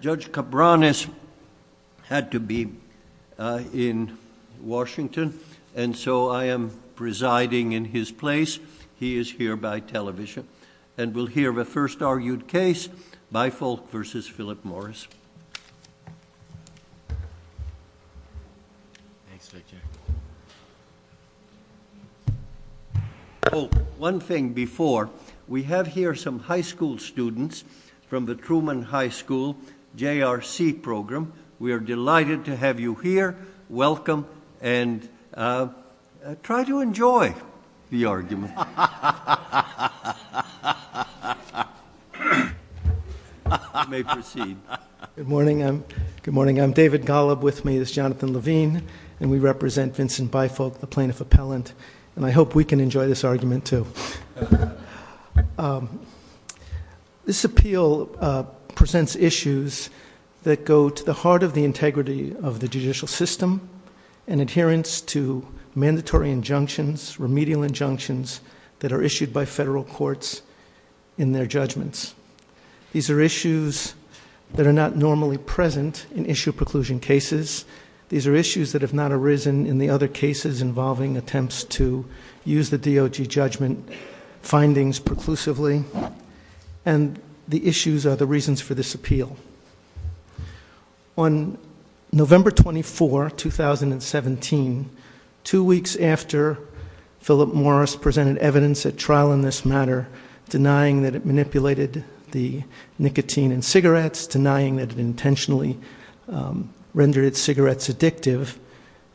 Judge Cabranes had to be in Washington and so I am presiding in his place. He is here by television and we'll hear the first argued case Bifolck v. Philip Morris. Oh one thing before we have here some high school students from the JRC program. We are delighted to have you here. Welcome and try to enjoy the argument. Good morning. Good morning. I'm David Golub. With me is Jonathan Levine and we represent Vincent Bifolck the plaintiff appellant and I hope we can enjoy this argument too. This appeal presents issues that go to the heart of the integrity of the judicial system and adherence to mandatory injunctions, remedial injunctions that are issued by federal courts in their judgments. These are issues that are not normally present in issue preclusion cases. These are issues that have not arisen in the other cases involving attempts to use the DOJ judgment findings preclusively and the issues are the reasons for this appeal. On November 24, 2017, two weeks after Philip Morris presented evidence at trial in this matter denying that it manipulated the nicotine in cigarettes, denying that it intentionally rendered cigarettes addictive,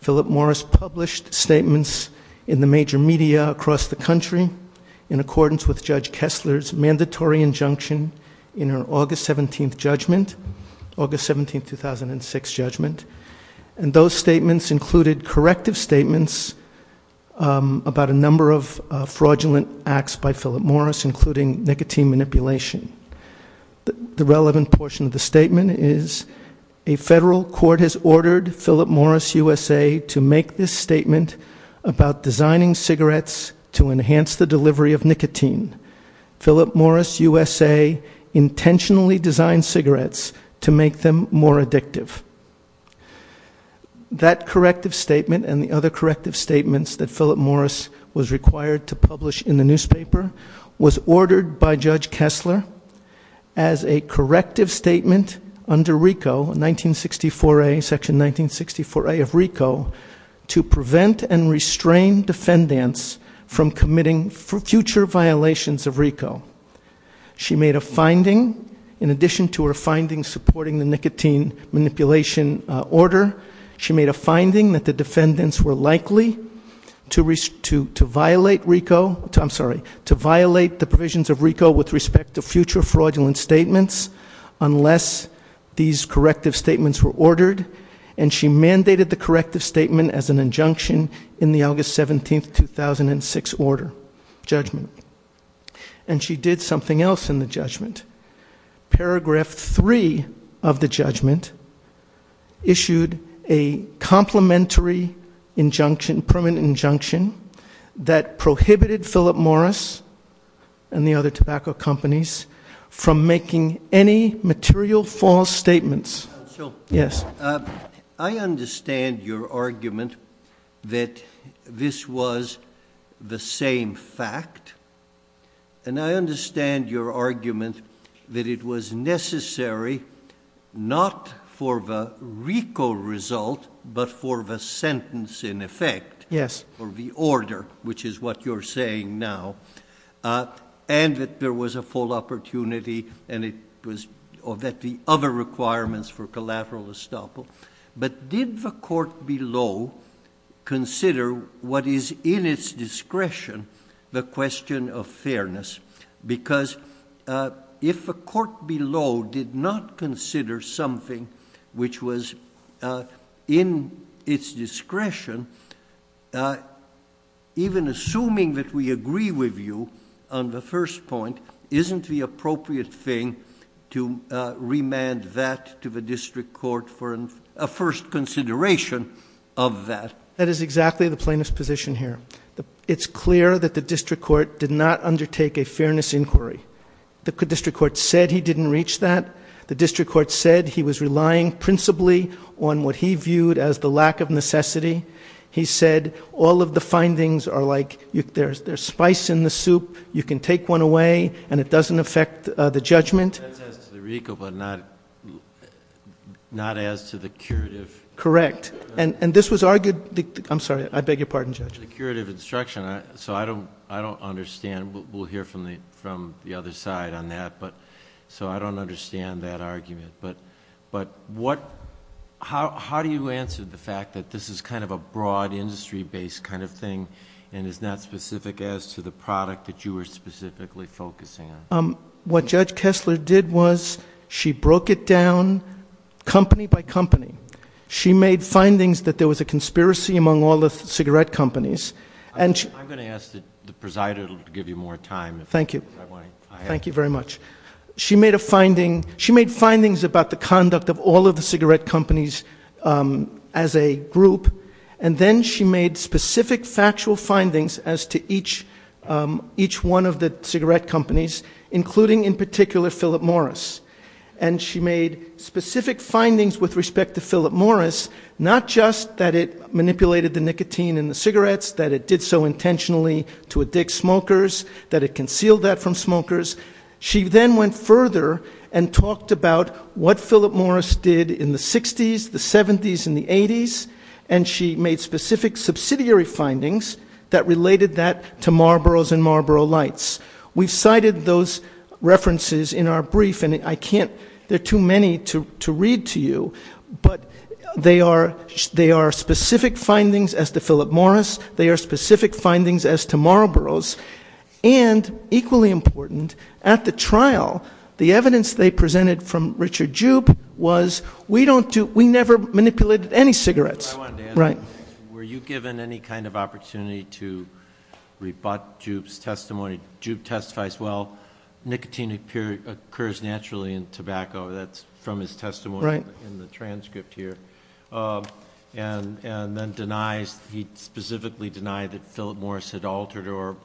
Philip Morris published statements in the major media across the country in accordance with Judge Kessler's mandatory injunction in her August 17, 2006 judgment and those statements included corrective statements about a number of fraudulent acts by A federal court has ordered Philip Morris USA to make this statement about designing cigarettes to enhance the delivery of nicotine. Philip Morris USA intentionally designed cigarettes to make them more addictive. That corrective statement and the other corrective statements that Philip Morris was required to publish in the newspaper was ordered by Judge Kessler as a corrective statement under RICO, section 1964A of RICO to prevent and restrain defendants from committing future violations of RICO. She made a finding in addition to her findings supporting the nicotine manipulation order, she made a finding that the defendants were likely to violate RICO, I'm sorry, to violate the provisions of RICO with respect to future fraudulent statements unless these corrective statements were ordered and she mandated the corrective statement as an injunction in the August 17, 2006 order judgment and she did something else in the judgment. Paragraph three of the judgment issued a complementary injunction permanent injunction that prohibited Philip Morris and the other tobacco companies from making any material false statements. I understand your argument that this was the same fact and I understand your argument that it was necessary not for the RICO result but for the sentence in effect or the order which is what you're saying now and that there was a full opportunity and that the other requirements for collateral estoppel but did the court below consider what is in its discretion the question of fairness because if the court below did not consider something which was in its discretion even assuming that we agree with you on the first point isn't the appropriate thing to remand that to the district court for a first consideration of that. That is exactly the plaintiff's position here. It's clear that the district court did not undertake a fairness inquiry the district court said he didn't reach that the district court said he was relying principally on what he viewed as the lack of necessity he said all of the findings are like there's there's spice in the soup you can take one away and it doesn't affect the judgment. That's as to the RICO but not as to the curative. Correct and this was argued I'm sorry I beg your pardon judge. The curative instruction so I don't understand we'll hear from the other side on that but so I don't understand that argument but what how do you answer the fact that this is kind of a broad industry-based kind of thing and is not specific as to the product that you were specifically focusing on? What judge Kessler did was she broke it down company by company she made findings that there was a conspiracy among all the cigarette companies and I'm going to ask the presider to give you more time thank you thank you very much she made a finding she made findings about the conduct of all of the cigarette companies as a group and then she made specific factual findings as to each each one of the cigarette companies including in particular Philip Morris and she made specific findings with respect to that it did so intentionally to addict smokers that it concealed that from smokers she then went further and talked about what Philip Morris did in the 60s the 70s and the 80s and she made specific subsidiary findings that related that to Marlboro's and Marlboro lights we've cited those references in our brief and I can't there are too many to to read to you but they are they are specific findings as to Philip Morris they are specific findings as to Marlboro's and equally important at the trial the evidence they presented from Richard Jupe was we don't do we never manipulated any cigarettes right were you given any kind of opportunity to rebut Jupe's testimony Jupe testifies well nicotine occurs naturally in tobacco that's from his testimony right in the and then denies he specifically denied that Philip Morris had altered or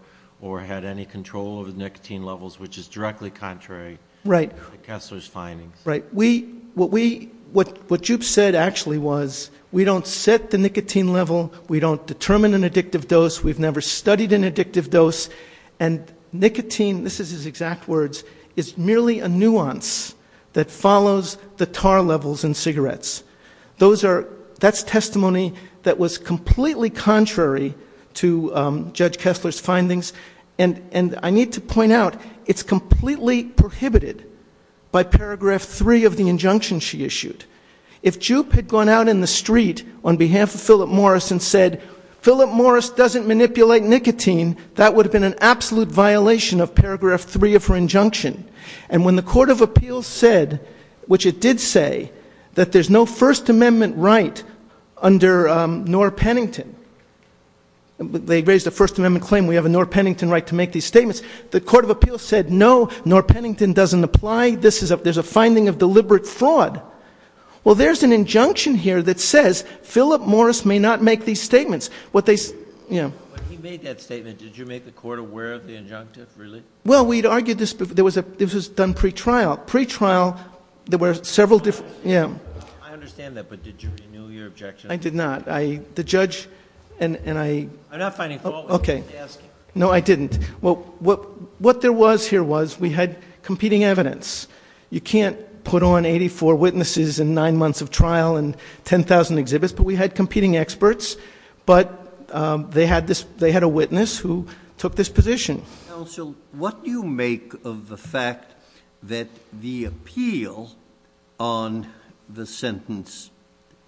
or had any control over nicotine levels which is directly contrary right to Kessler's findings right we what we what what Jupe said actually was we don't set the nicotine level we don't determine an addictive dose we've never studied an addictive dose and nicotine this is his exact words is merely a nuance that follows the tar levels in cigarettes those are that's testimony that was completely contrary to Judge Kessler's findings and and I need to point out it's completely prohibited by paragraph three of the injunction she issued if Jupe had gone out in the street on behalf of Philip Morris and said Philip Morris doesn't manipulate nicotine that would have been an absolute violation of which it did say that there's no first amendment right under um Norr Pennington they raised a first amendment claim we have a Norr Pennington right to make these statements the court of appeals said no Norr Pennington doesn't apply this is a there's a finding of deliberate fraud well there's an injunction here that says Philip Morris may not make these statements what they you know he made that statement did you make the court aware of the trial there were several different yeah I understand that but did you renew your objection I did not I the judge and and I I'm not finding fault okay no I didn't well what what there was here was we had competing evidence you can't put on 84 witnesses in nine months of trial and 10,000 exhibits but we had competing experts but they had this they had a witness who took this counsel what do you make of the fact that the appeal on the sentence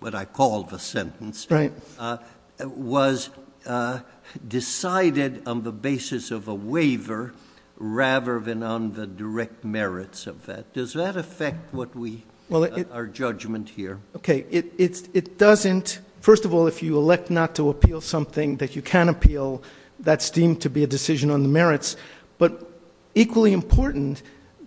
what I call the sentence right uh was uh decided on the basis of a waiver rather than on the direct merits of that does that affect what we well our judgment here okay it it doesn't first of all if you elect not to but equally important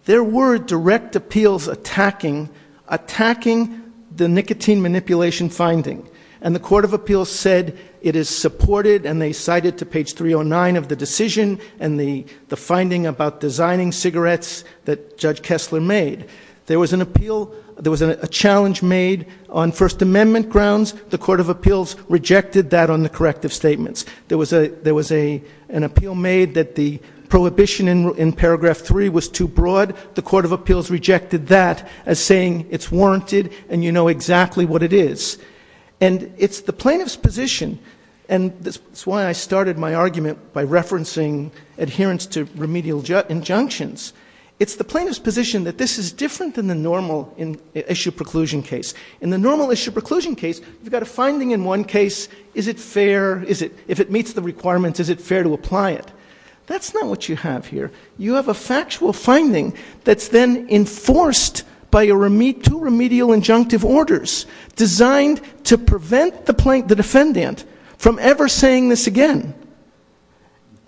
there were direct appeals attacking attacking the nicotine manipulation finding and the court of appeals said it is supported and they cited to page 309 of the decision and the the finding about designing cigarettes that judge Kessler made there was an appeal there was a challenge made on first amendment grounds the court of appeals rejected that on the corrective statements there was a there was a an appeal made that the prohibition in paragraph three was too broad the court of appeals rejected that as saying it's warranted and you know exactly what it is and it's the plaintiff's position and that's why I started my argument by referencing adherence to remedial injunctions it's the plaintiff's position that this is different than the normal in issue preclusion case in the normal issue preclusion case you've got a finding in one case is it fair is it if it meets the requirements is it fair to apply it that's not what you have here you have a factual finding that's then enforced by a remit to remedial injunctive orders designed to prevent the plaintiff the defendant from ever saying this again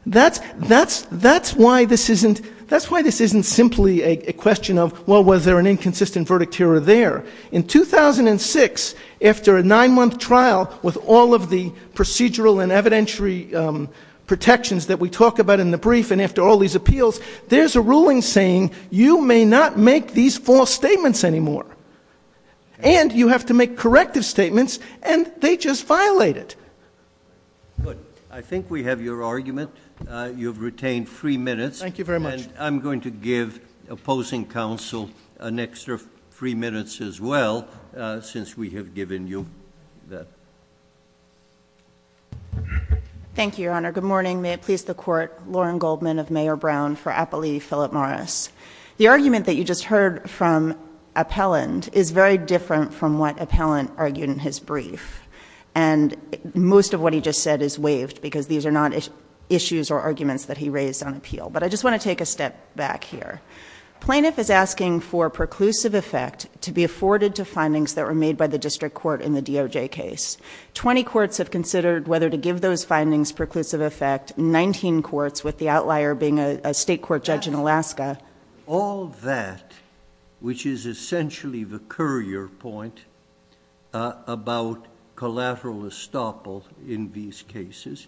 that's that's that's why this isn't that's why this isn't simply a question of well was there an inconsistent verdict here or there in 2006 after a nine-month trial with all of the procedural and evidentiary protections that we talk about in the brief and after all these appeals there's a ruling saying you may not make these false statements anymore and you have to make corrective statements and they just violate it good I think we have your argument uh you've retained three thank you very much I'm going to give opposing counsel an extra three minutes as well uh since we have given you that thank you your honor good morning may it please the court lauren goldman of mayor brown for appellee philip morris the argument that you just heard from appellant is very different from what appellant argued in his brief and most of what he just said is waived because these are not issues or arguments that he raised on appeal but I just want to take a step back here plaintiff is asking for preclusive effect to be afforded to findings that were made by the district court in the DOJ case 20 courts have considered whether to give those findings preclusive effect 19 courts with the outlier being a state court judge in alaska all that which is essentially the courier point about collateral estoppel in these cases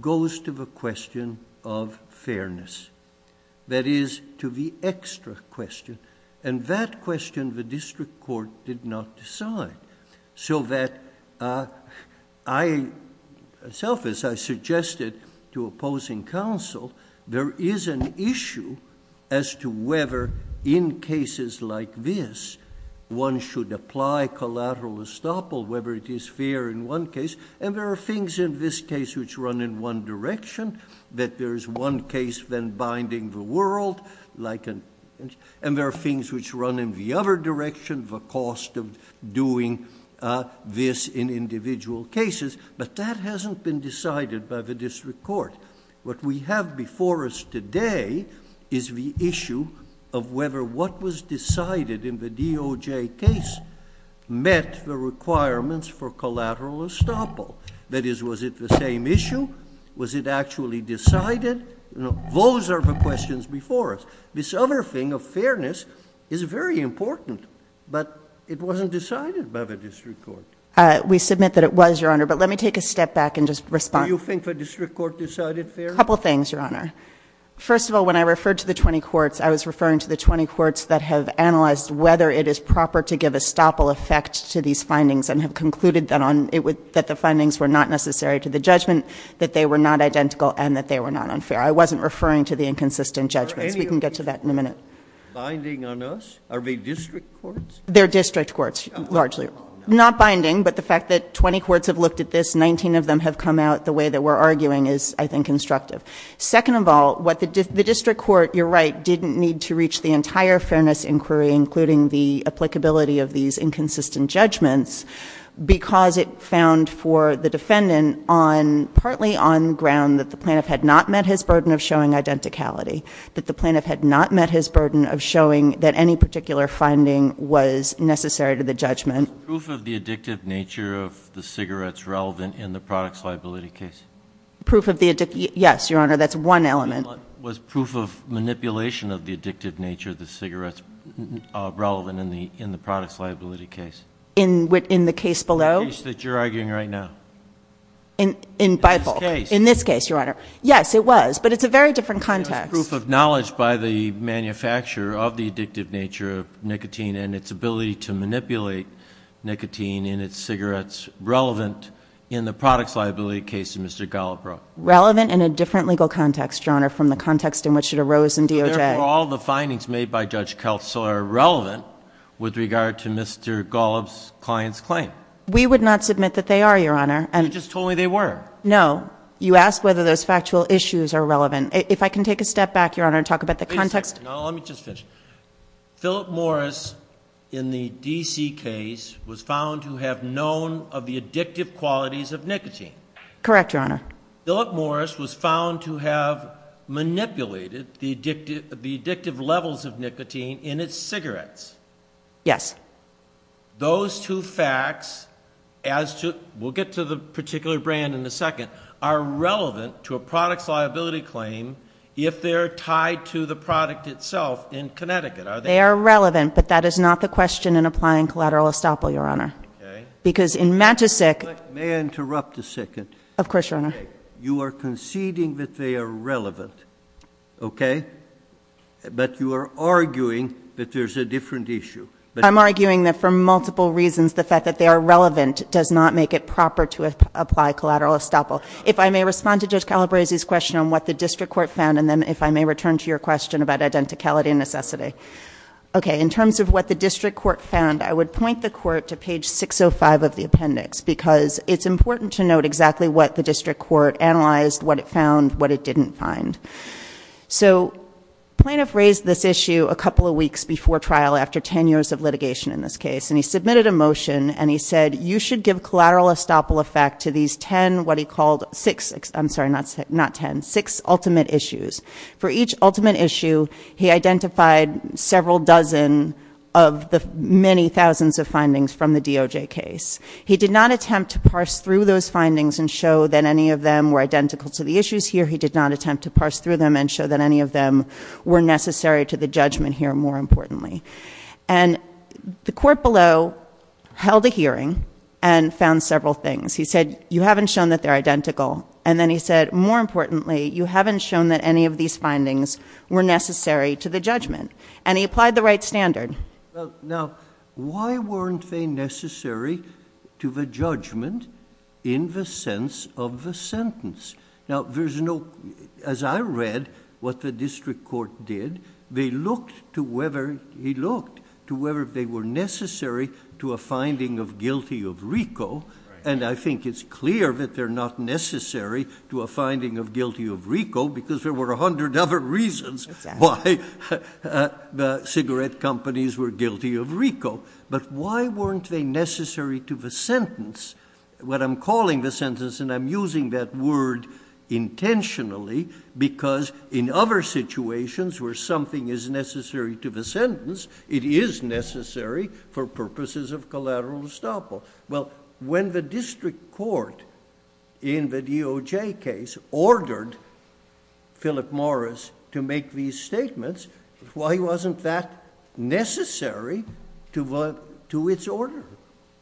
goes to the question of fairness that is to the extra question and that question the district court did not decide so that uh I self as I suggested to opposing counsel there is an issue as to whether in cases like this one should apply collateral estoppel whether it is fair in one case and there are things in this case which run in one direction that there is one case then doing this in individual cases but that hasn't been decided by the district court what we have before us today is the issue of whether what was decided in the DOJ case met the requirements for collateral estoppel that is was it the same issue was it actually decided you know those are the questions before us this other thing of fairness is very important but it wasn't decided by the district court uh we submit that it was your honor but let me take a step back and just respond you think the district court decided fair a couple things your honor first of all when I referred to the 20 courts I was referring to the 20 courts that have analyzed whether it is proper to give a stopple effect to these findings and have concluded that on it would that the findings were not necessary to the judgment that they were not identical and that they were not unfair I wasn't referring to the inconsistent judgments we can get to that in a minute binding on us are they district courts they're district courts largely not binding but the fact that 20 courts have looked at this 19 of them have come out the way that we're arguing is I think constructive second of all what the district court you're right didn't need to reach the entire fairness inquiry including the applicability of these inconsistent judgments because it found for the defendant on partly on ground that the plaintiff had not met his identicality that the plaintiff had not met his burden of showing that any particular finding was necessary to the judgment proof of the addictive nature of the cigarettes relevant in the products liability case proof of the yes your honor that's one element was proof of manipulation of the addictive nature of the cigarettes uh relevant in the in the products liability case in within the case below that you're arguing right now in in bible in this case your honor yes it was but it's a very different context proof of knowledge by the manufacturer of the addictive nature of nicotine and its ability to manipulate nicotine in its cigarettes relevant in the products liability case of mr gollop bro relevant in a different legal context your honor from the context in which it arose in doj all the findings made by judge kelso are relevant with regard to mr gollop's client's claim we would not submit that they are your honor and you just told me they were no you asked whether those factual issues are relevant if i can take a step back your honor and talk about the context let me just finish philip morris in the dc case was found to have known of the addictive qualities of nicotine correct your honor philip morris was found to have manipulated the addictive the addictive we'll get to the particular brand in a second are relevant to a product's liability claim if they're tied to the product itself in connecticut are they are relevant but that is not the question in applying collateral estoppel your honor because in matchesick may i interrupt a second of course your honor you are conceding that they are relevant okay but you are arguing that there's a different issue but i'm arguing that for multiple reasons the fact that they are relevant does not make it proper to apply collateral estoppel if i may respond to judge calabrese's question on what the district court found and then if i may return to your question about identicality necessity okay in terms of what the district court found i would point the court to page 605 of the appendix because it's important to note exactly what the district court analyzed what it found what it didn't find so plaintiff raised this issue a couple of weeks before trial after 10 years of litigation in this case and he submitted a motion and he said you should give collateral estoppel effect to these 10 what he called six i'm sorry not not 10 six ultimate issues for each ultimate issue he identified several dozen of the many thousands of findings from the doj case he did not attempt to parse through those findings and show that any of them were identical to the issues here he did not attempt to parse through them and show that any of them were necessary to the judgment here more importantly and the court below held a hearing and found several things he said you haven't shown that they're identical and then he said more importantly you haven't shown that any of these findings were necessary to the judgment and he applied the right standard now why weren't they necessary to the judgment in the sense of the sentence now there's no as i read what the district court did they looked to whether he looked to whether they were necessary to a finding of guilty of rico and i think it's clear that they're not necessary to a finding of guilty of rico because there were a hundred other reasons why the cigarette companies were guilty of rico but why weren't they necessary to the sentence what i'm calling the sentence and i'm using that word intentionally because in other situations where something is necessary to the sentence it is necessary for purposes of collateral estoppel well when the district court in the doj case ordered philip morris to make these statements why wasn't that necessary to vote to its order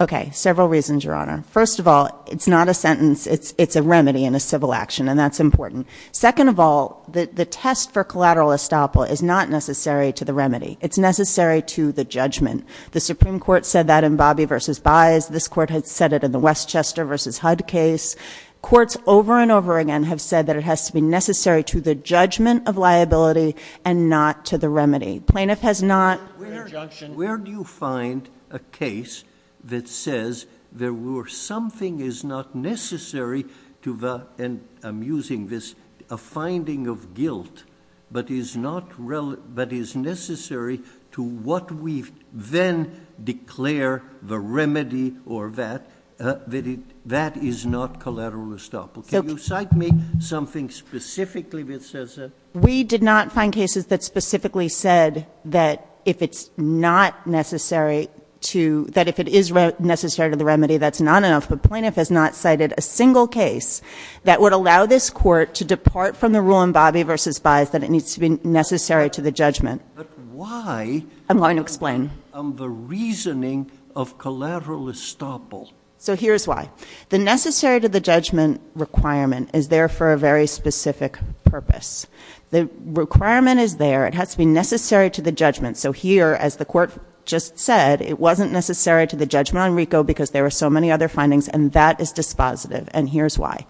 okay several reasons your honor first of all it's not a sentence it's it's a remedy in a civil action and that's important second of all the the test for collateral estoppel is not necessary to the remedy it's necessary to the judgment the supreme court said that in bobby versus buys this court had said it in the westchester versus hud case courts over and over again have said that it has to be necessary to the judgment of liability and not to the remedy plaintiff has not where do you find a case that says there were something is not necessary to the and i'm using this a finding of guilt but is not relevant but is necessary to what we then declare the remedy or that uh that it that is not collateral estoppel can you cite me something specifically which says that we did not find cases that specifically said that if it's not necessary to that if it is necessary to the remedy that's not enough but plaintiff has not cited a single case that would allow this court to depart from the rule in bobby versus buys that it needs to be necessary to the judgment but why i'm going to explain on the reasoning of collateral estoppel so here's why the necessary to the judgment requirement is there for a very specific purpose the requirement is there it has to be necessary to the judgment so here as the court just said it wasn't necessary to the judgment on rico because there were so many other findings and that is dispositive and here's why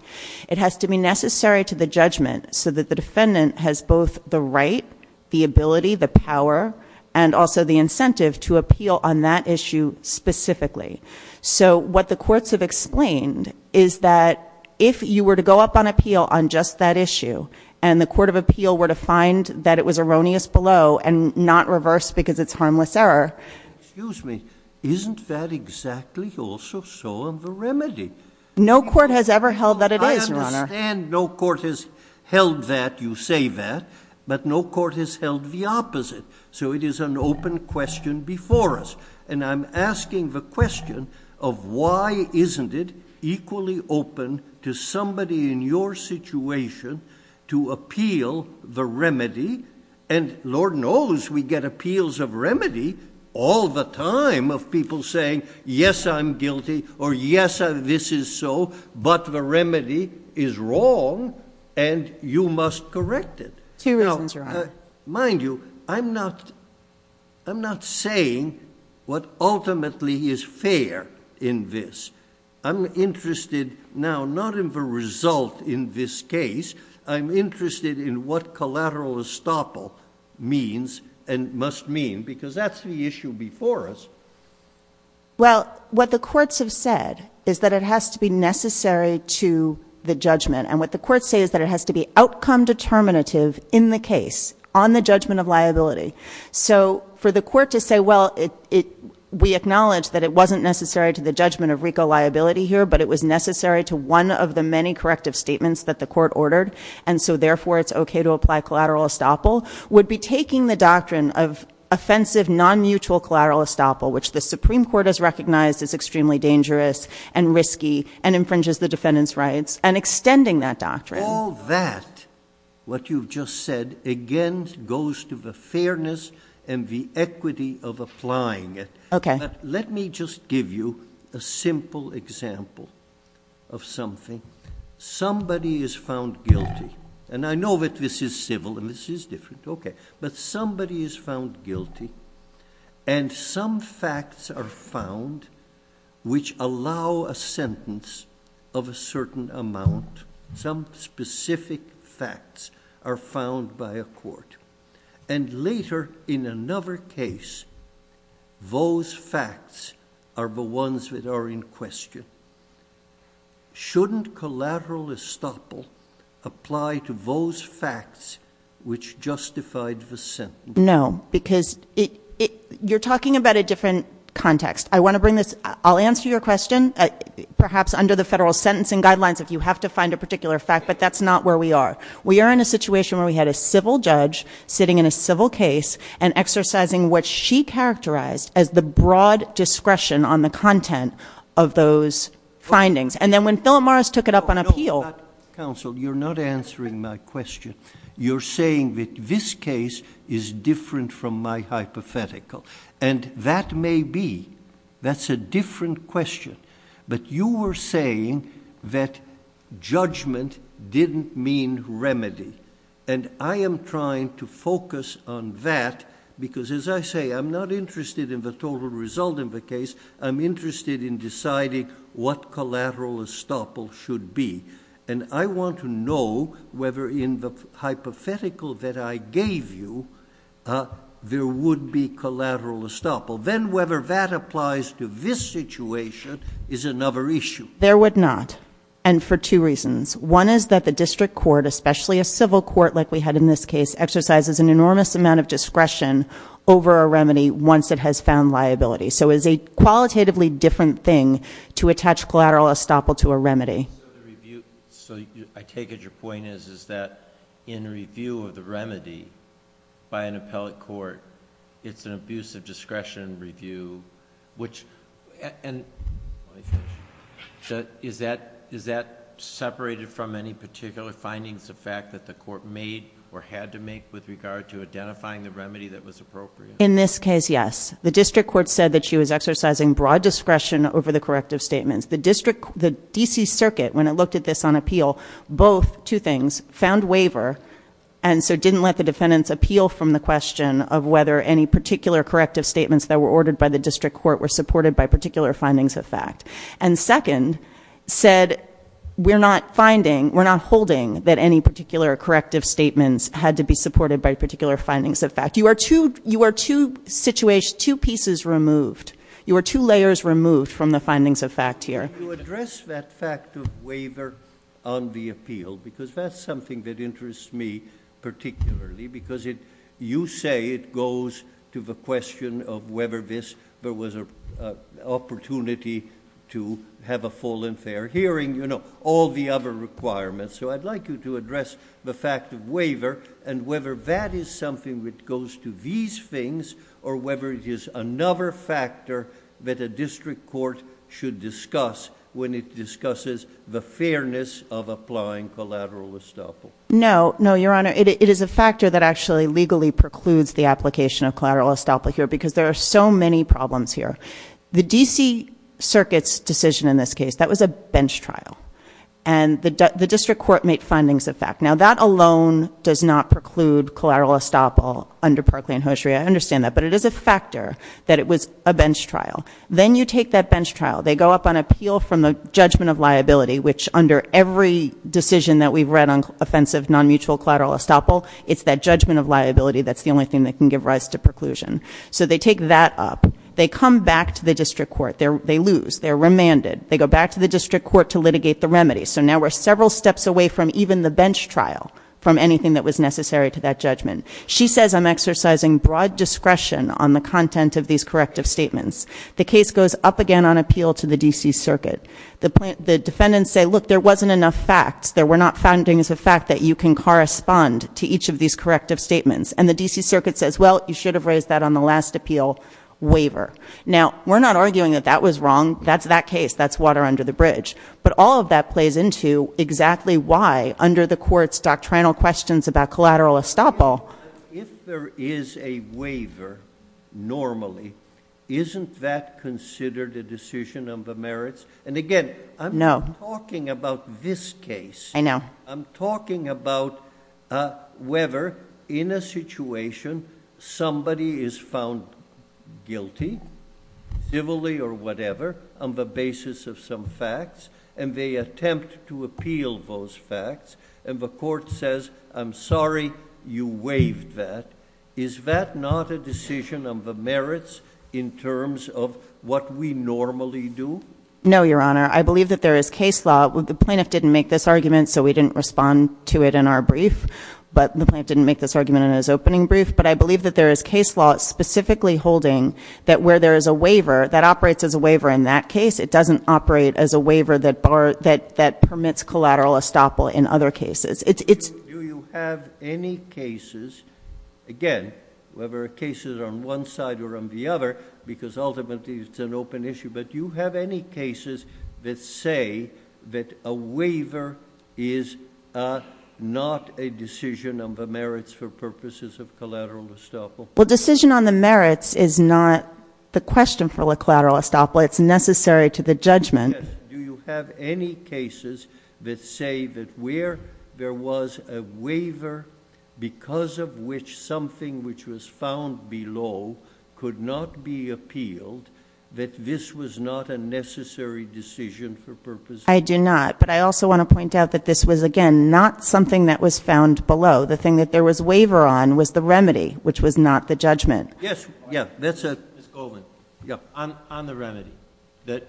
it has to be necessary to the judgment so that the defendant has both the right the ability the power and also the incentive to appeal on that issue specifically so what the courts have explained is that if you were to go up on appeal on just that issue and the court of appeal were to find that it was erroneous below and not reverse because it's harmless error excuse me isn't that exactly also so on the remedy no court has ever held that it is your honor and no court has held that you say that but no court has held the opposite so it is an open question before us and i'm asking the question of why isn't it equally open to somebody in your situation to appeal the remedy and lord knows we get appeals of remedy all the time of people saying yes i'm guilty or yes this is so but the remedy is wrong and you must correct it two reasons your honor mind you i'm not i'm not saying what ultimately is fair in this i'm interested now not in the result in this case i'm interested in what collateral estoppel means and must mean because that's the issue before us well what the courts have said is that it has to be necessary to the judgment and what the courts say is that it has to be outcome determinative in the case on the judgment of liability so for the court to say well it it we acknowledge that it wasn't necessary to the judgment of rico liability here but it was necessary to one of the many corrective statements that the court ordered and so therefore it's okay to apply collateral estoppel would be taking the doctrine of offensive non-mutual collateral estoppel which the supreme court has recognized is extremely dangerous and risky and infringes the defendant's all that what you've just said again goes to the fairness and the equity of applying it okay let me just give you a simple example of something somebody is found guilty and i know that this is civil and this is different okay but somebody is found guilty and some facts are found which specific facts are found by a court and later in another case those facts are the ones that are in question shouldn't collateral estoppel apply to those facts which justified the sentence no because it you're talking about a different context i want to bring this i'll answer your guidelines if you have to find a particular fact but that's not where we are we are in a situation where we had a civil judge sitting in a civil case and exercising what she characterized as the broad discretion on the content of those findings and then when philip mars took it up on appeal counsel you're not answering my question you're saying that this case is different from my hypothetical and that may be that's a different question but you were saying that judgment didn't mean remedy and i am trying to focus on that because as i say i'm not interested in the total result in the case i'm interested in deciding what collateral estoppel should be and i want to know whether in the hypothetical that i gave you uh there would be collateral estoppel then whether that applies to this situation is another issue there would not and for two reasons one is that the district court especially a civil court like we had in this case exercises an enormous amount of discretion over a remedy once it has found liability so is a qualitatively different thing to attach collateral estoppel to a remedy so i take it your point is is that in review of the remedy by an appellate court it's an abuse of discretion review which and is that is that separated from any particular findings the fact that the court made or had to make with regard to identifying the remedy that was appropriate in this case yes the district court said that exercising broad discretion over the corrective statements the district the dc circuit when it looked at this on appeal both two things found waiver and so didn't let the defendants appeal from the question of whether any particular corrective statements that were ordered by the district court were supported by particular findings of fact and second said we're not finding we're not holding that any particular corrective statements had to be supported by you are two layers removed from the findings of fact here you address that fact of waiver on the appeal because that's something that interests me particularly because it you say it goes to the question of whether this there was a opportunity to have a full and fair hearing you know all the other requirements so i'd like you to address the fact of waiver and whether that is it goes to these things or whether it is another factor that a district court should discuss when it discusses the fairness of applying collateral estoppel no no your honor it is a factor that actually legally precludes the application of collateral estoppel here because there are so many problems here the dc circuit's decision in this case that was a bench trial and the under parkland hosiery i understand that but it is a factor that it was a bench trial then you take that bench trial they go up on appeal from the judgment of liability which under every decision that we've read on offensive non-mutual collateral estoppel it's that judgment of liability that's the only thing that can give rise to preclusion so they take that up they come back to the district court there they lose they're remanded they go back to the district court to litigate the remedy so now we're several steps away from even the bench trial from anything that was necessary to that judgment she says i'm exercising broad discretion on the content of these corrective statements the case goes up again on appeal to the dc circuit the plant the defendants say look there wasn't enough facts there were not findings of fact that you can correspond to each of these corrective statements and the dc circuit says well you should have raised that on the last appeal waiver now we're not arguing that that was wrong that's that case that's water under the bridge but all of that plays into exactly why under the court's doctrinal questions about collateral estoppel if there is a waiver normally isn't that considered a decision on the merits and again i'm no talking about this case i know i'm talking about uh whether in a situation somebody is found guilty civilly or whatever on the basis of some facts and they attempt to appeal those facts and the court says i'm sorry you waived that is that not a decision of the merits in terms of what we normally do no your honor i believe that there is case law the plaintiff didn't make this argument so we didn't respond to it in our brief but the plaintiff didn't make this argument in his opening brief but i believe that there is case law specifically holding that where there is a waiver that operates as a waiver in that case it doesn't operate as a waiver that bar that that permits collateral estoppel in other cases it's do you have any cases again whether cases on one side or on the other because ultimately it's an open issue but you have any cases that say that a waiver is uh not a decision of the merits for purposes of collateral estoppel well decision on the merits is not the question for the collateral estoppel it's necessary to the judgment do you have any cases that say that where there was a waiver because of which something which was found below could not be appealed that this was not a necessary decision for purposes i do not but i also want to point out that this was again not something that was found below the thing that there was waiver on was the remedy which was not the judgment yes yeah miss goldman yeah on on the remedy that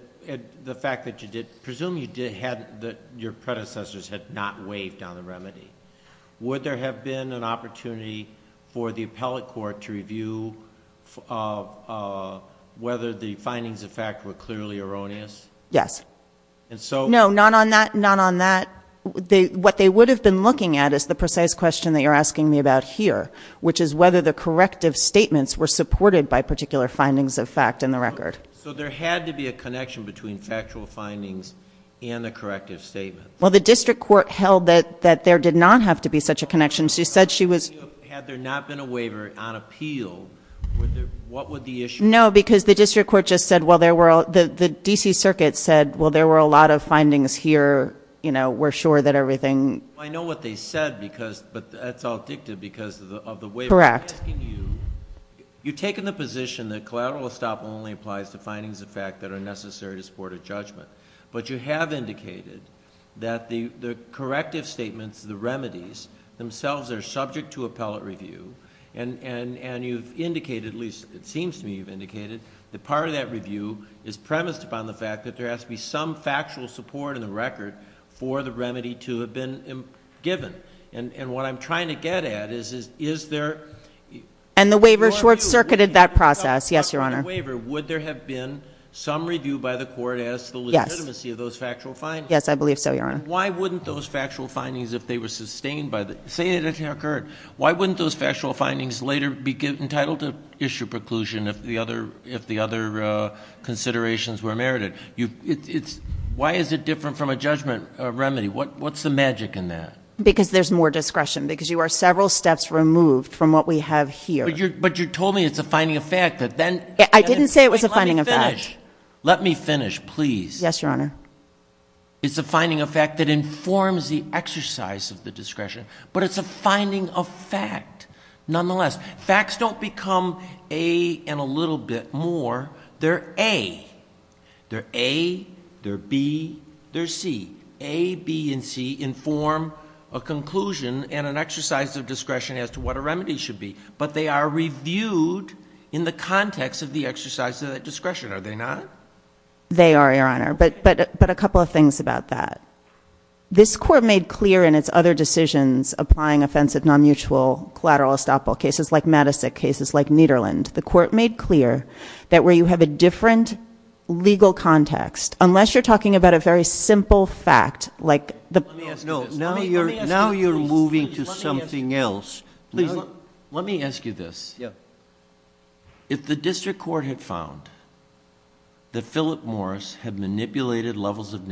the fact that you did presume you did have that your predecessors had not waived on the remedy would there have been an opportunity for the appellate court to review uh whether the findings of fact were clearly erroneous yes and so no not on that not on that they what they would have been looking at is the precise question that you're asking me which is whether the corrective statements were supported by particular findings of fact in the record so there had to be a connection between factual findings and the corrective statement well the district court held that that there did not have to be such a connection she said she was had there not been a waiver on appeal what would the issue no because the district court just said well there were the the dc circuit said well there were a lot of findings here you know we're sure that everything i know what they said because but that's all dicta because of the way correct you've taken the position that collateral estoppel only applies to findings of fact that are necessary to support a judgment but you have indicated that the the corrective statements the remedies themselves are subject to appellate review and and and you've indicated at least it seems to me you've indicated that part of that review is premised upon the fact that there has to be some factual support in the record for the remedy to have been given and and what i'm trying to get at is is is there and the waiver short-circuited that process yes your honor waiver would there have been some review by the court as the legitimacy of those factual findings yes i believe so your honor why wouldn't those factual findings if they were sustained by the say it occurred why wouldn't those factual findings later be entitled to issue preclusion if the other if it's why is it different from a judgment remedy what what's the magic in that because there's more discretion because you are several steps removed from what we have here but you're but you told me it's a finding of fact that then i didn't say it was a finding of that let me finish please yes your honor it's a finding of fact that informs the exercise of the discretion but it's a finding of nonetheless facts don't become a and a little bit more they're a they're a they're b they're c a b and c inform a conclusion and an exercise of discretion as to what a remedy should be but they are reviewed in the context of the exercise of that discretion are they not they are your honor but but but a couple of things about that this court made clear in its other decisions applying offensive non-mutual collateral estoppel cases like madisic cases like nederland the court made clear that where you have a different legal context unless you're talking about a very simple fact like the no now you're now you're moving to something else please let me ask you this yeah if the district court had found that philip morris had manipulated levels of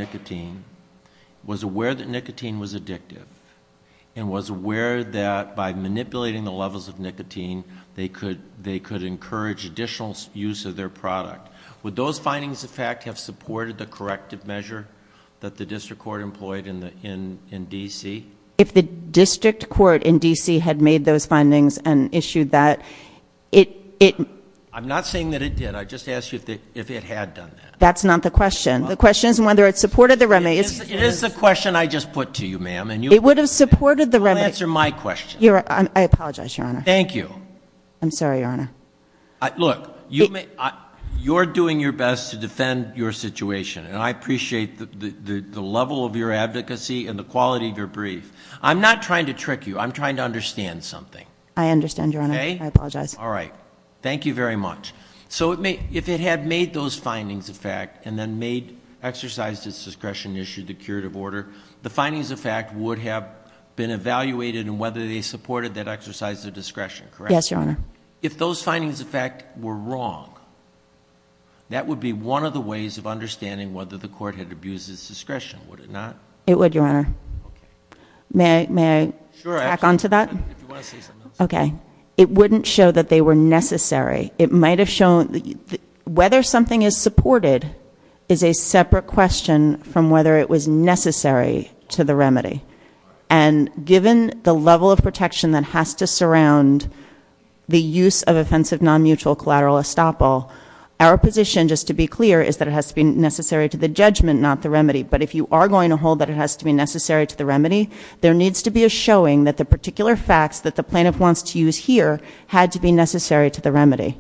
where that by manipulating the levels of nicotine they could they could encourage additional use of their product would those findings in fact have supported the corrective measure that the district court employed in the in in dc if the district court in dc had made those findings and issued that it it i'm not saying that it did i just asked you if it had done that that's not the question the question is whether it supported the remedy it is the question i just put to you ma'am and it would have supported the remedy answer my question you're right i apologize your honor thank you i'm sorry your honor look you may you're doing your best to defend your situation and i appreciate the the the level of your advocacy and the quality of your brief i'm not trying to trick you i'm trying to understand something i understand your honor i apologize all right thank you very much so it may if it had made those findings of fact and then made exercised its discretion issued a curative order the findings of fact would have been evaluated and whether they supported that exercise of discretion correct yes your honor if those findings of fact were wrong that would be one of the ways of understanding whether the court had abused its discretion would it not it would your honor may may back onto that okay it wouldn't show that they were necessary it might have shown whether something is supported is a separate question from whether it was necessary to the remedy and given the level of protection that has to surround the use of offensive non-mutual collateral estoppel our position just to be clear is that it has to be necessary to the judgment not the remedy but if you are going to hold that it has to be necessary to the remedy there needs to be a showing that the particular facts that the plaintiff wants to use here had to be necessary to the remedy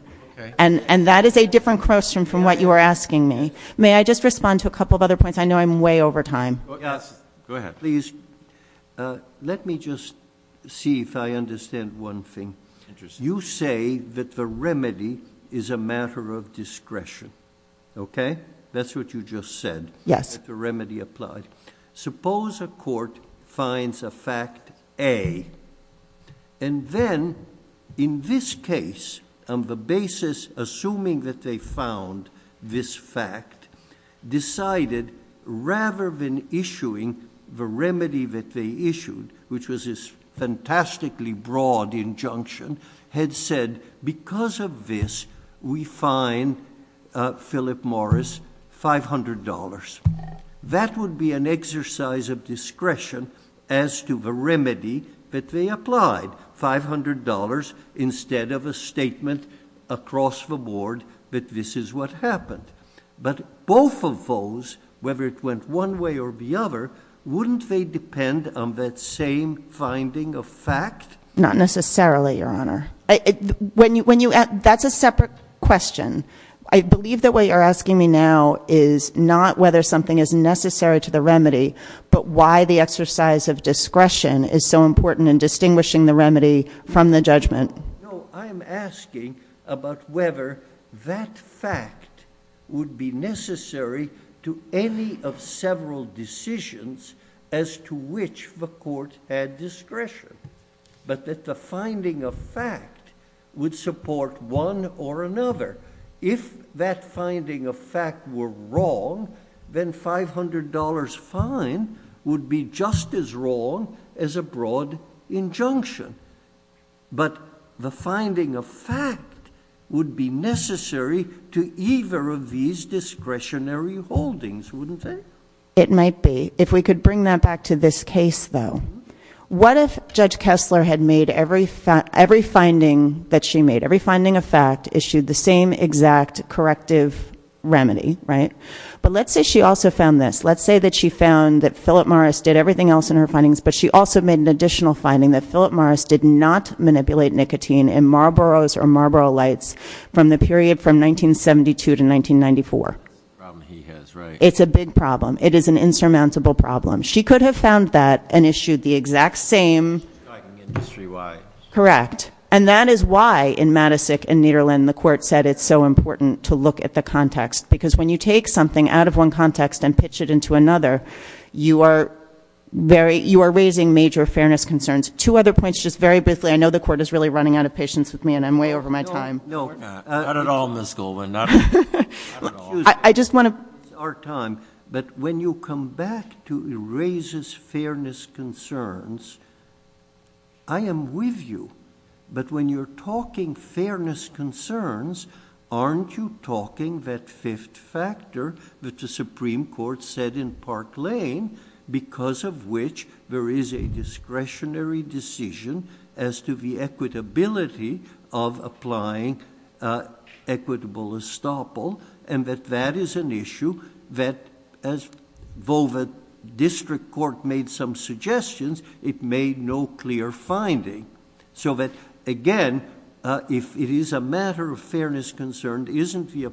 and and that is a different question from what you are asking me may i just respond to a couple of other points i know i'm way over time yes go ahead please uh let me just see if i understand one thing you say that the remedy is a matter of discretion okay that's what you just said yes the remedy applied suppose a court finds a fact a and then in this case on the basis assuming that they found this fact decided rather than issuing the remedy that they issued which was fantastically broad injunction had said because of this we find philip morris five hundred dollars that would be an exercise of discretion as to the remedy that they applied five hundred dollars instead of a statement across the board that this is what happened but both of those whether it went one way or the other wouldn't they depend on that same finding of fact not necessarily your honor when you when you add that's a separate question i believe that what you're asking me now is not whether something is necessary to the remedy but why the exercise of discretion is so important in distinguishing the remedy from the judgment no i'm asking about whether that fact would be necessary to any of several decisions as to which the court had discretion but that the finding of fact would support one or another if that finding of fact were wrong then five hundred dollars fine would be just as wrong as a broad injunction but the finding of fact would be necessary to either of these discretionary holdings wouldn't it it might be if we could bring that back to this case though what if judge kessler had made every fact every finding that she made every finding of fact issued the same exact corrective remedy right but let's say she also found this let's say that she found that philip morris did everything else in her findings but she also made an additional finding that philip morris did not manipulate nicotine in marlboro's or marlboro lights from the period from 1972 to 1994 problem he has right it's a big problem it is an insurmountable problem she could have found that and issued the exact same industry why correct and that is why in madisic and niederland the court said it's so important to look at the context because when you take something out of one context and pitch it into another you are very you are raising major fairness concerns two other points just very briefly i know the court is really running out of patience with me and i'm way over my time no not at all in this goal we're not i just want to our time but when you come back to it raises fairness concerns i am with you but when you're talking fairness concerns aren't you talking that fifth factor that the supreme court said in park because of which there is a discretionary decision as to the equitability of applying equitable estoppel and that that is an issue that as volva district court made some suggestions it made no clear finding so that again uh if it is a matter of fairness concerned isn't the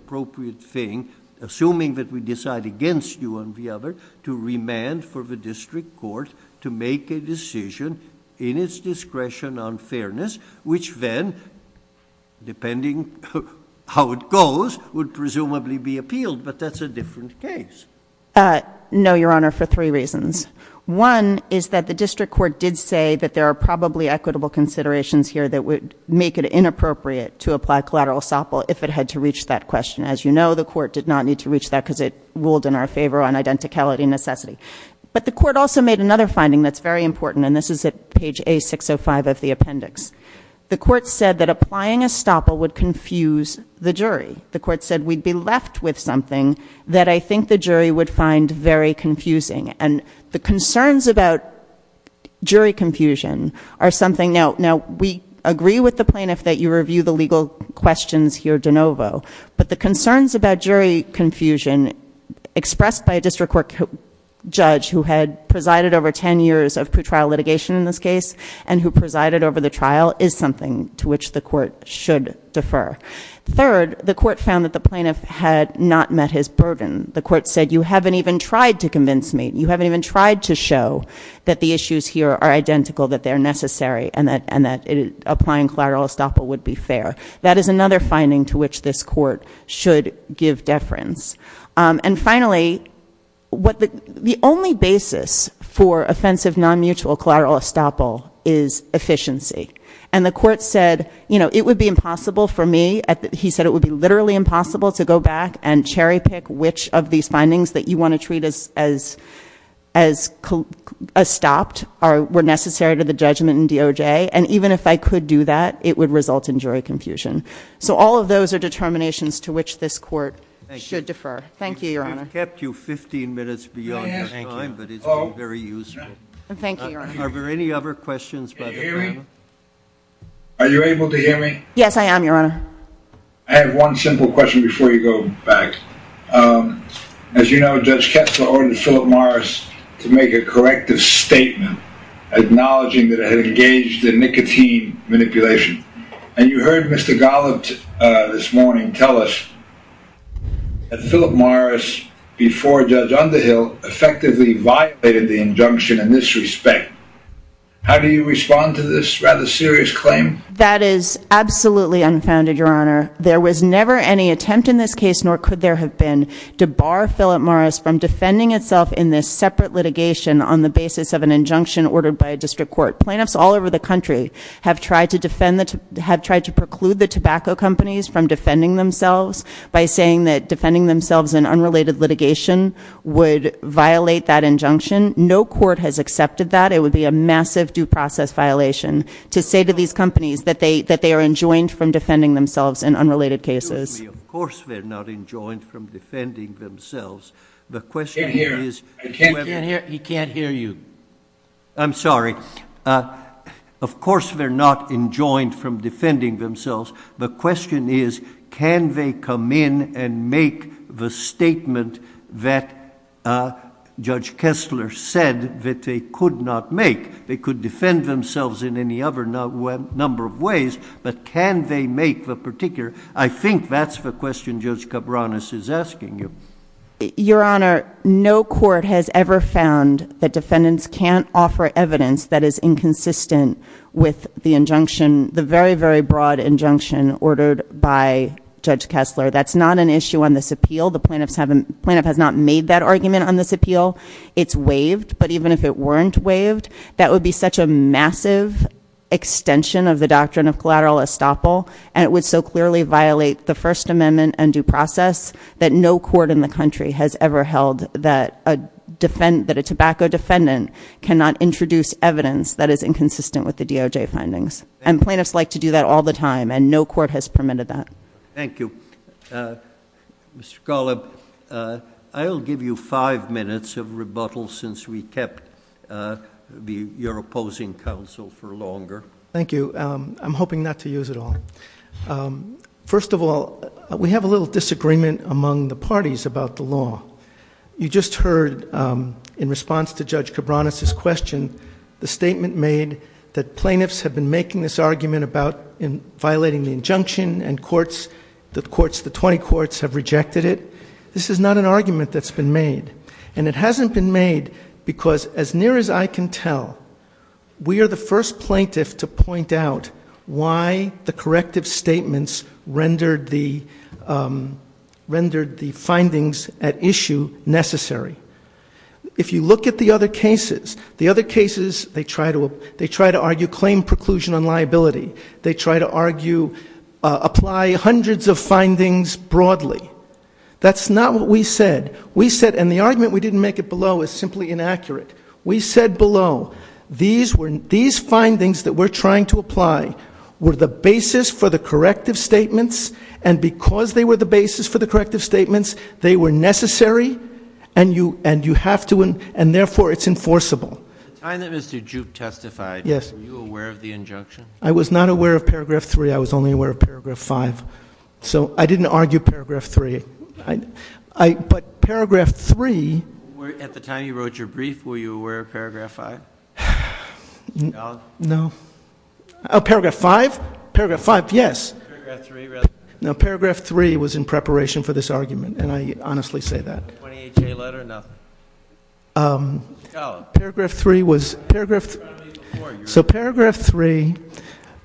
for the district court to make a decision in its discretion on fairness which then depending how it goes would presumably be appealed but that's a different case uh no your honor for three reasons one is that the district court did say that there are probably equitable considerations here that would make it inappropriate to apply collateral estoppel if it had to reach that question as you know the court did not need to reach that because it ruled in our favor on necessity but the court also made another finding that's very important and this is at page a 605 of the appendix the court said that applying estoppel would confuse the jury the court said we'd be left with something that i think the jury would find very confusing and the concerns about jury confusion are something now now we agree with the plaintiff that you review the legal questions here de novo but the concerns about jury confusion expressed by a district court judge who had presided over 10 years of pretrial litigation in this case and who presided over the trial is something to which the court should defer third the court found that the plaintiff had not met his burden the court said you haven't even tried to convince me you haven't even tried to show that the issues here are identical that they're necessary and that and that applying collateral estoppel would be fair that is another finding to which this court should give deference and finally what the the only basis for offensive non-mutual collateral estoppel is efficiency and the court said you know it would be impossible for me at he said it would be literally impossible to go back and cherry pick which of these findings that you want to treat as as as stopped are were necessary to the judgment and even if i could do that it would result in jury confusion so all of those are determinations to which this court should defer thank you your honor kept you 15 minutes beyond your time but it's very useful thank you are there any other questions are you able to hear me yes i am your honor i have one simple question before you go back um as you know judge kessler ordered philip to make a corrective statement acknowledging that it had engaged in nicotine manipulation and you heard mr gollum uh this morning tell us that philip morris before judge underhill effectively violated the injunction in this respect how do you respond to this rather serious claim that is absolutely unfounded your honor there was never any attempt in this case nor could there have been to bar philip morris from defending itself in this separate litigation on the basis of an injunction ordered by a district court plaintiffs all over the country have tried to defend the have tried to preclude the tobacco companies from defending themselves by saying that defending themselves in unrelated litigation would violate that injunction no court has accepted that it would be a massive due process violation to say to these companies that they that they are enjoined from defending themselves in unrelated cases of course they're not enjoined from defending themselves the question here is you can't hear you i'm sorry uh of course they're not enjoined from defending themselves the question is can they come in and make the statement that uh judge kessler said that they could not make they could defend themselves in any other number of ways but can they make the particular i think that's the question judge cabranas is asking you your honor no court has ever found that defendants can't offer evidence that is inconsistent with the injunction the very very broad injunction ordered by judge kessler that's not an issue on this appeal the plaintiffs haven't plaintiff has not made that argument on this appeal it's waived but even if it weren't waived that would be such a massive extension of the doctrine of collateral estoppel and it would so clearly violate the first amendment and due process that no court in the country has ever held that a defend that a tobacco defendant cannot introduce evidence that is inconsistent with the doj findings and plaintiffs like to do that all the time and no court has permitted that thank you uh mr gollub uh i will give you five minutes of to use it all um first of all we have a little disagreement among the parties about the law you just heard um in response to judge cabranas's question the statement made that plaintiffs have been making this argument about in violating the injunction and courts the courts the 20 courts have rejected it this is not an argument that's been made and it hasn't been made because as near as i can tell we are the first plaintiff to point out why the corrective statements rendered the um rendered the findings at issue necessary if you look at the other cases the other cases they try to they try to argue claim preclusion on liability they try to argue apply hundreds of findings broadly that's not what we said we said and the argument we didn't make it below is simply inaccurate we said below these were these findings that we're trying to apply were the basis for the corrective statements and because they were the basis for the corrective statements they were necessary and you and you have to and therefore it's enforceable the time that mr jupe testified yes were you aware of the injunction i was not aware of paragraph three i was only aware of paragraph five so i didn't argue paragraph three i i but paragraph three at the time you wrote your brief were you aware of paragraph five no oh paragraph five paragraph five yes no paragraph three was in preparation for this argument and i honestly say that um paragraph three was paragraph so paragraph three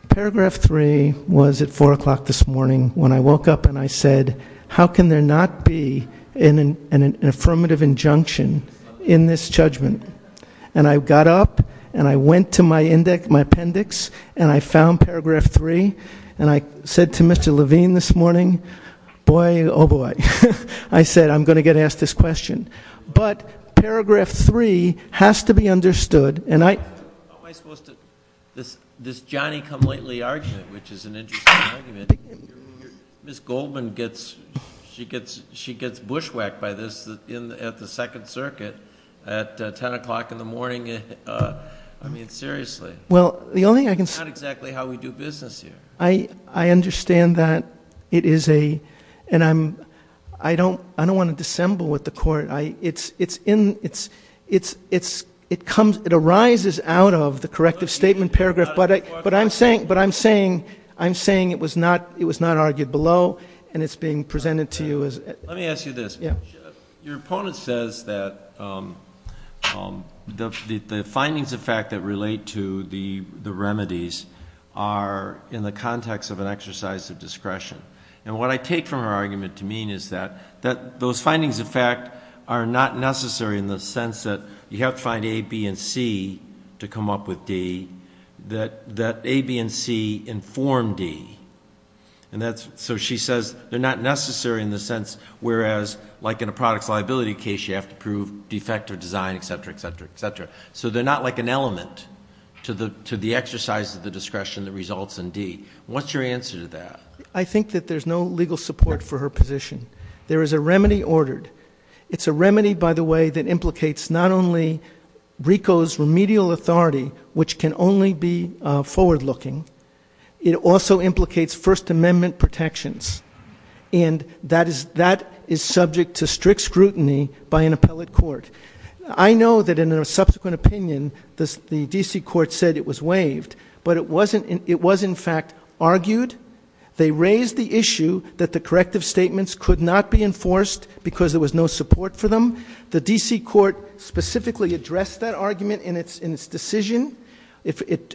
paragraph three was at four o'clock this morning when i woke up and i said how can there not be in an affirmative injunction in this judgment and i got up and i went to my index my appendix and i found paragraph three and i said to mr levine this morning boy oh boy i said i'm going to get asked this question but paragraph three has to be understood and i am i supposed to this this johnny come lately argument which is an interesting argument miss goldman gets she gets she gets bushwhacked by at the second circuit at 10 o'clock in the morning uh i mean seriously well the only thing i can say exactly how we do business here i i understand that it is a and i'm i don't i don't want to dissemble with the court i it's it's in it's it's it's it comes it arises out of the corrective statement paragraph but i but i'm saying but i'm saying i'm saying it was not it was not argued below and it's being presented to you as let me ask you this yeah your opponent says that um um the the findings of fact that relate to the the remedies are in the context of an exercise of discretion and what i take from her argument to mean is that that those findings in fact are not necessary in the sense that you have to find a b and c to come up with d that that a b and c inform d and that's so she says they're not necessary in the sense whereas like in a product's liability case you have to prove defective design etc etc etc so they're not like an element to the to the exercise of the discretion that results in d what's your answer to that i think that there's no legal support for her position there is a remedy ordered it's a remedy by the way that implicates not only rico's remedial authority which can only be uh forward looking it also implicates first amendment protections and that is that is subject to strict scrutiny by an appellate court i know that in a subsequent opinion this the dc court said it was waived but it wasn't it was in fact argued they raised the issue that the corrective statements could not be enforced because there was no support for them the dc court specifically addressed that argument in its in its decision if it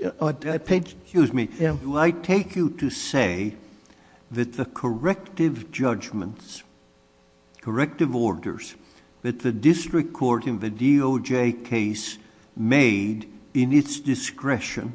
excuse me do i take you to say that the corrective judgments corrective orders that the district court in the doj case made in its discretion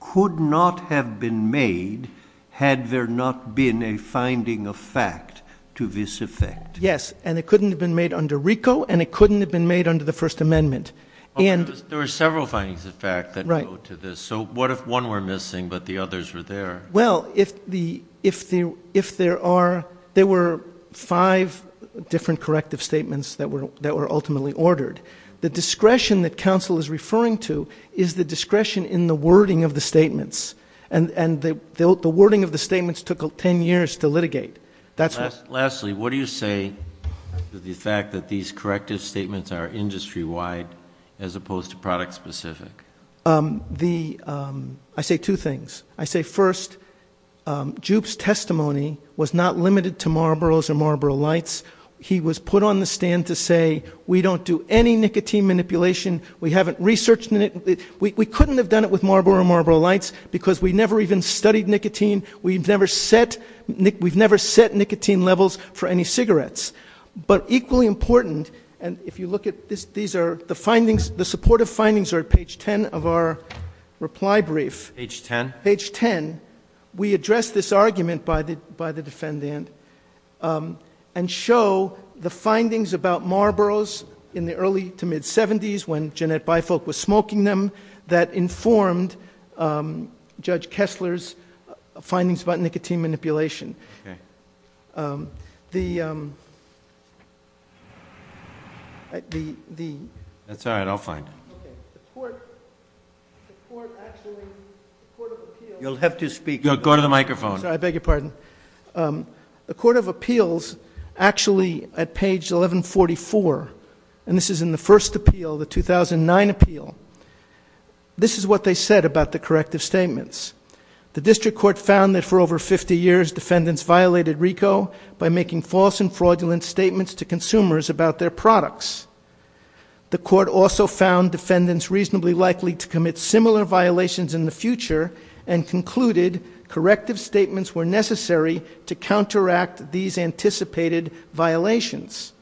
could not have been made had there not been a finding of fact to this effect yes and it couldn't have been made under rico and it couldn't have been made under the first amendment and there were several findings in fact that go to this so what if one were missing but the others were there well if the if the if there are there were five different corrective statements that were that were ultimately ordered the discretion that council is referring to is the discretion in the wording of the statements and and the the wording of the statements took 10 years to litigate that's last lastly what do you say the fact that these corrective statements are industry-wide as opposed to product specific um the um i say two things i say first um jupe's testimony was not limited to marlboro's or marlboro lights he was put on the stand to say we don't do any nicotine manipulation we haven't researched in it we couldn't have done it with marlboro marlboro lights because we never even studied nicotine we've never set nick we've never set nicotine levels for any cigarettes but equally important and if you look at this these are the findings the supportive findings are at page 10 of our reply brief h10 page 10 we address this argument by the by the defendant um and show the findings about marlboro's in the early to mid-70s when jeanette bifolk was smoking them that informed um judge kessler's findings about nicotine manipulation okay um the um the the that's all right i'll find okay the court the court actually you'll have to speak go to the microphone i beg your pardon um the court of appeals actually at page 1144 and this is in the first appeal the 2009 appeal this is what they said about the corrective statements the district court found that for over 50 years defendants violated rico by making false and fraudulent statements to consumers about their products the court also found defendants reasonably likely to commit similar violations in the future and concluded corrective statements were necessary to counteract these anticipated violations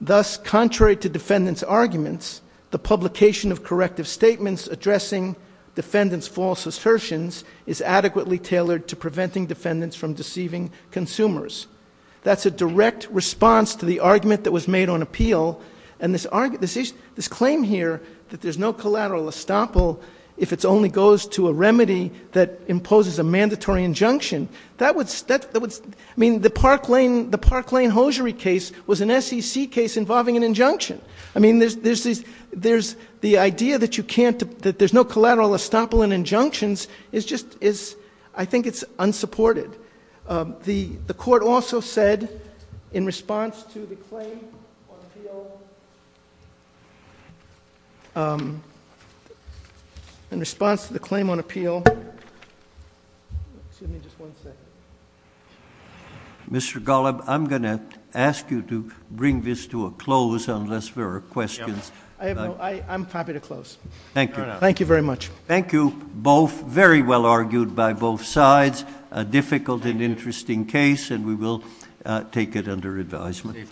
thus contrary to defendants arguments the publication of corrective statements addressing defendants false assertions is adequately tailored to preventing defendants from deceiving consumers that's a direct response to the argument that was made on appeal and this argument this claim here that there's no collateral estoppel if it only goes to a remedy that imposes a mandatory injunction that would that would i mean the park lane the park lane hosiery case was an sec case involving an injunction i mean there's there's these there's the idea that you can't that there's no collateral estoppel and injunctions is just is i think it's unsupported um the the court also said in response to the claim on appeal um in response to the claim on appeal excuse me just one second mr gollum i'm gonna ask you to bring this to a close unless there questions i have no i i'm happy to close thank you thank you very much thank you both very well argued by both sides a difficult and interesting case and we will take it under advisement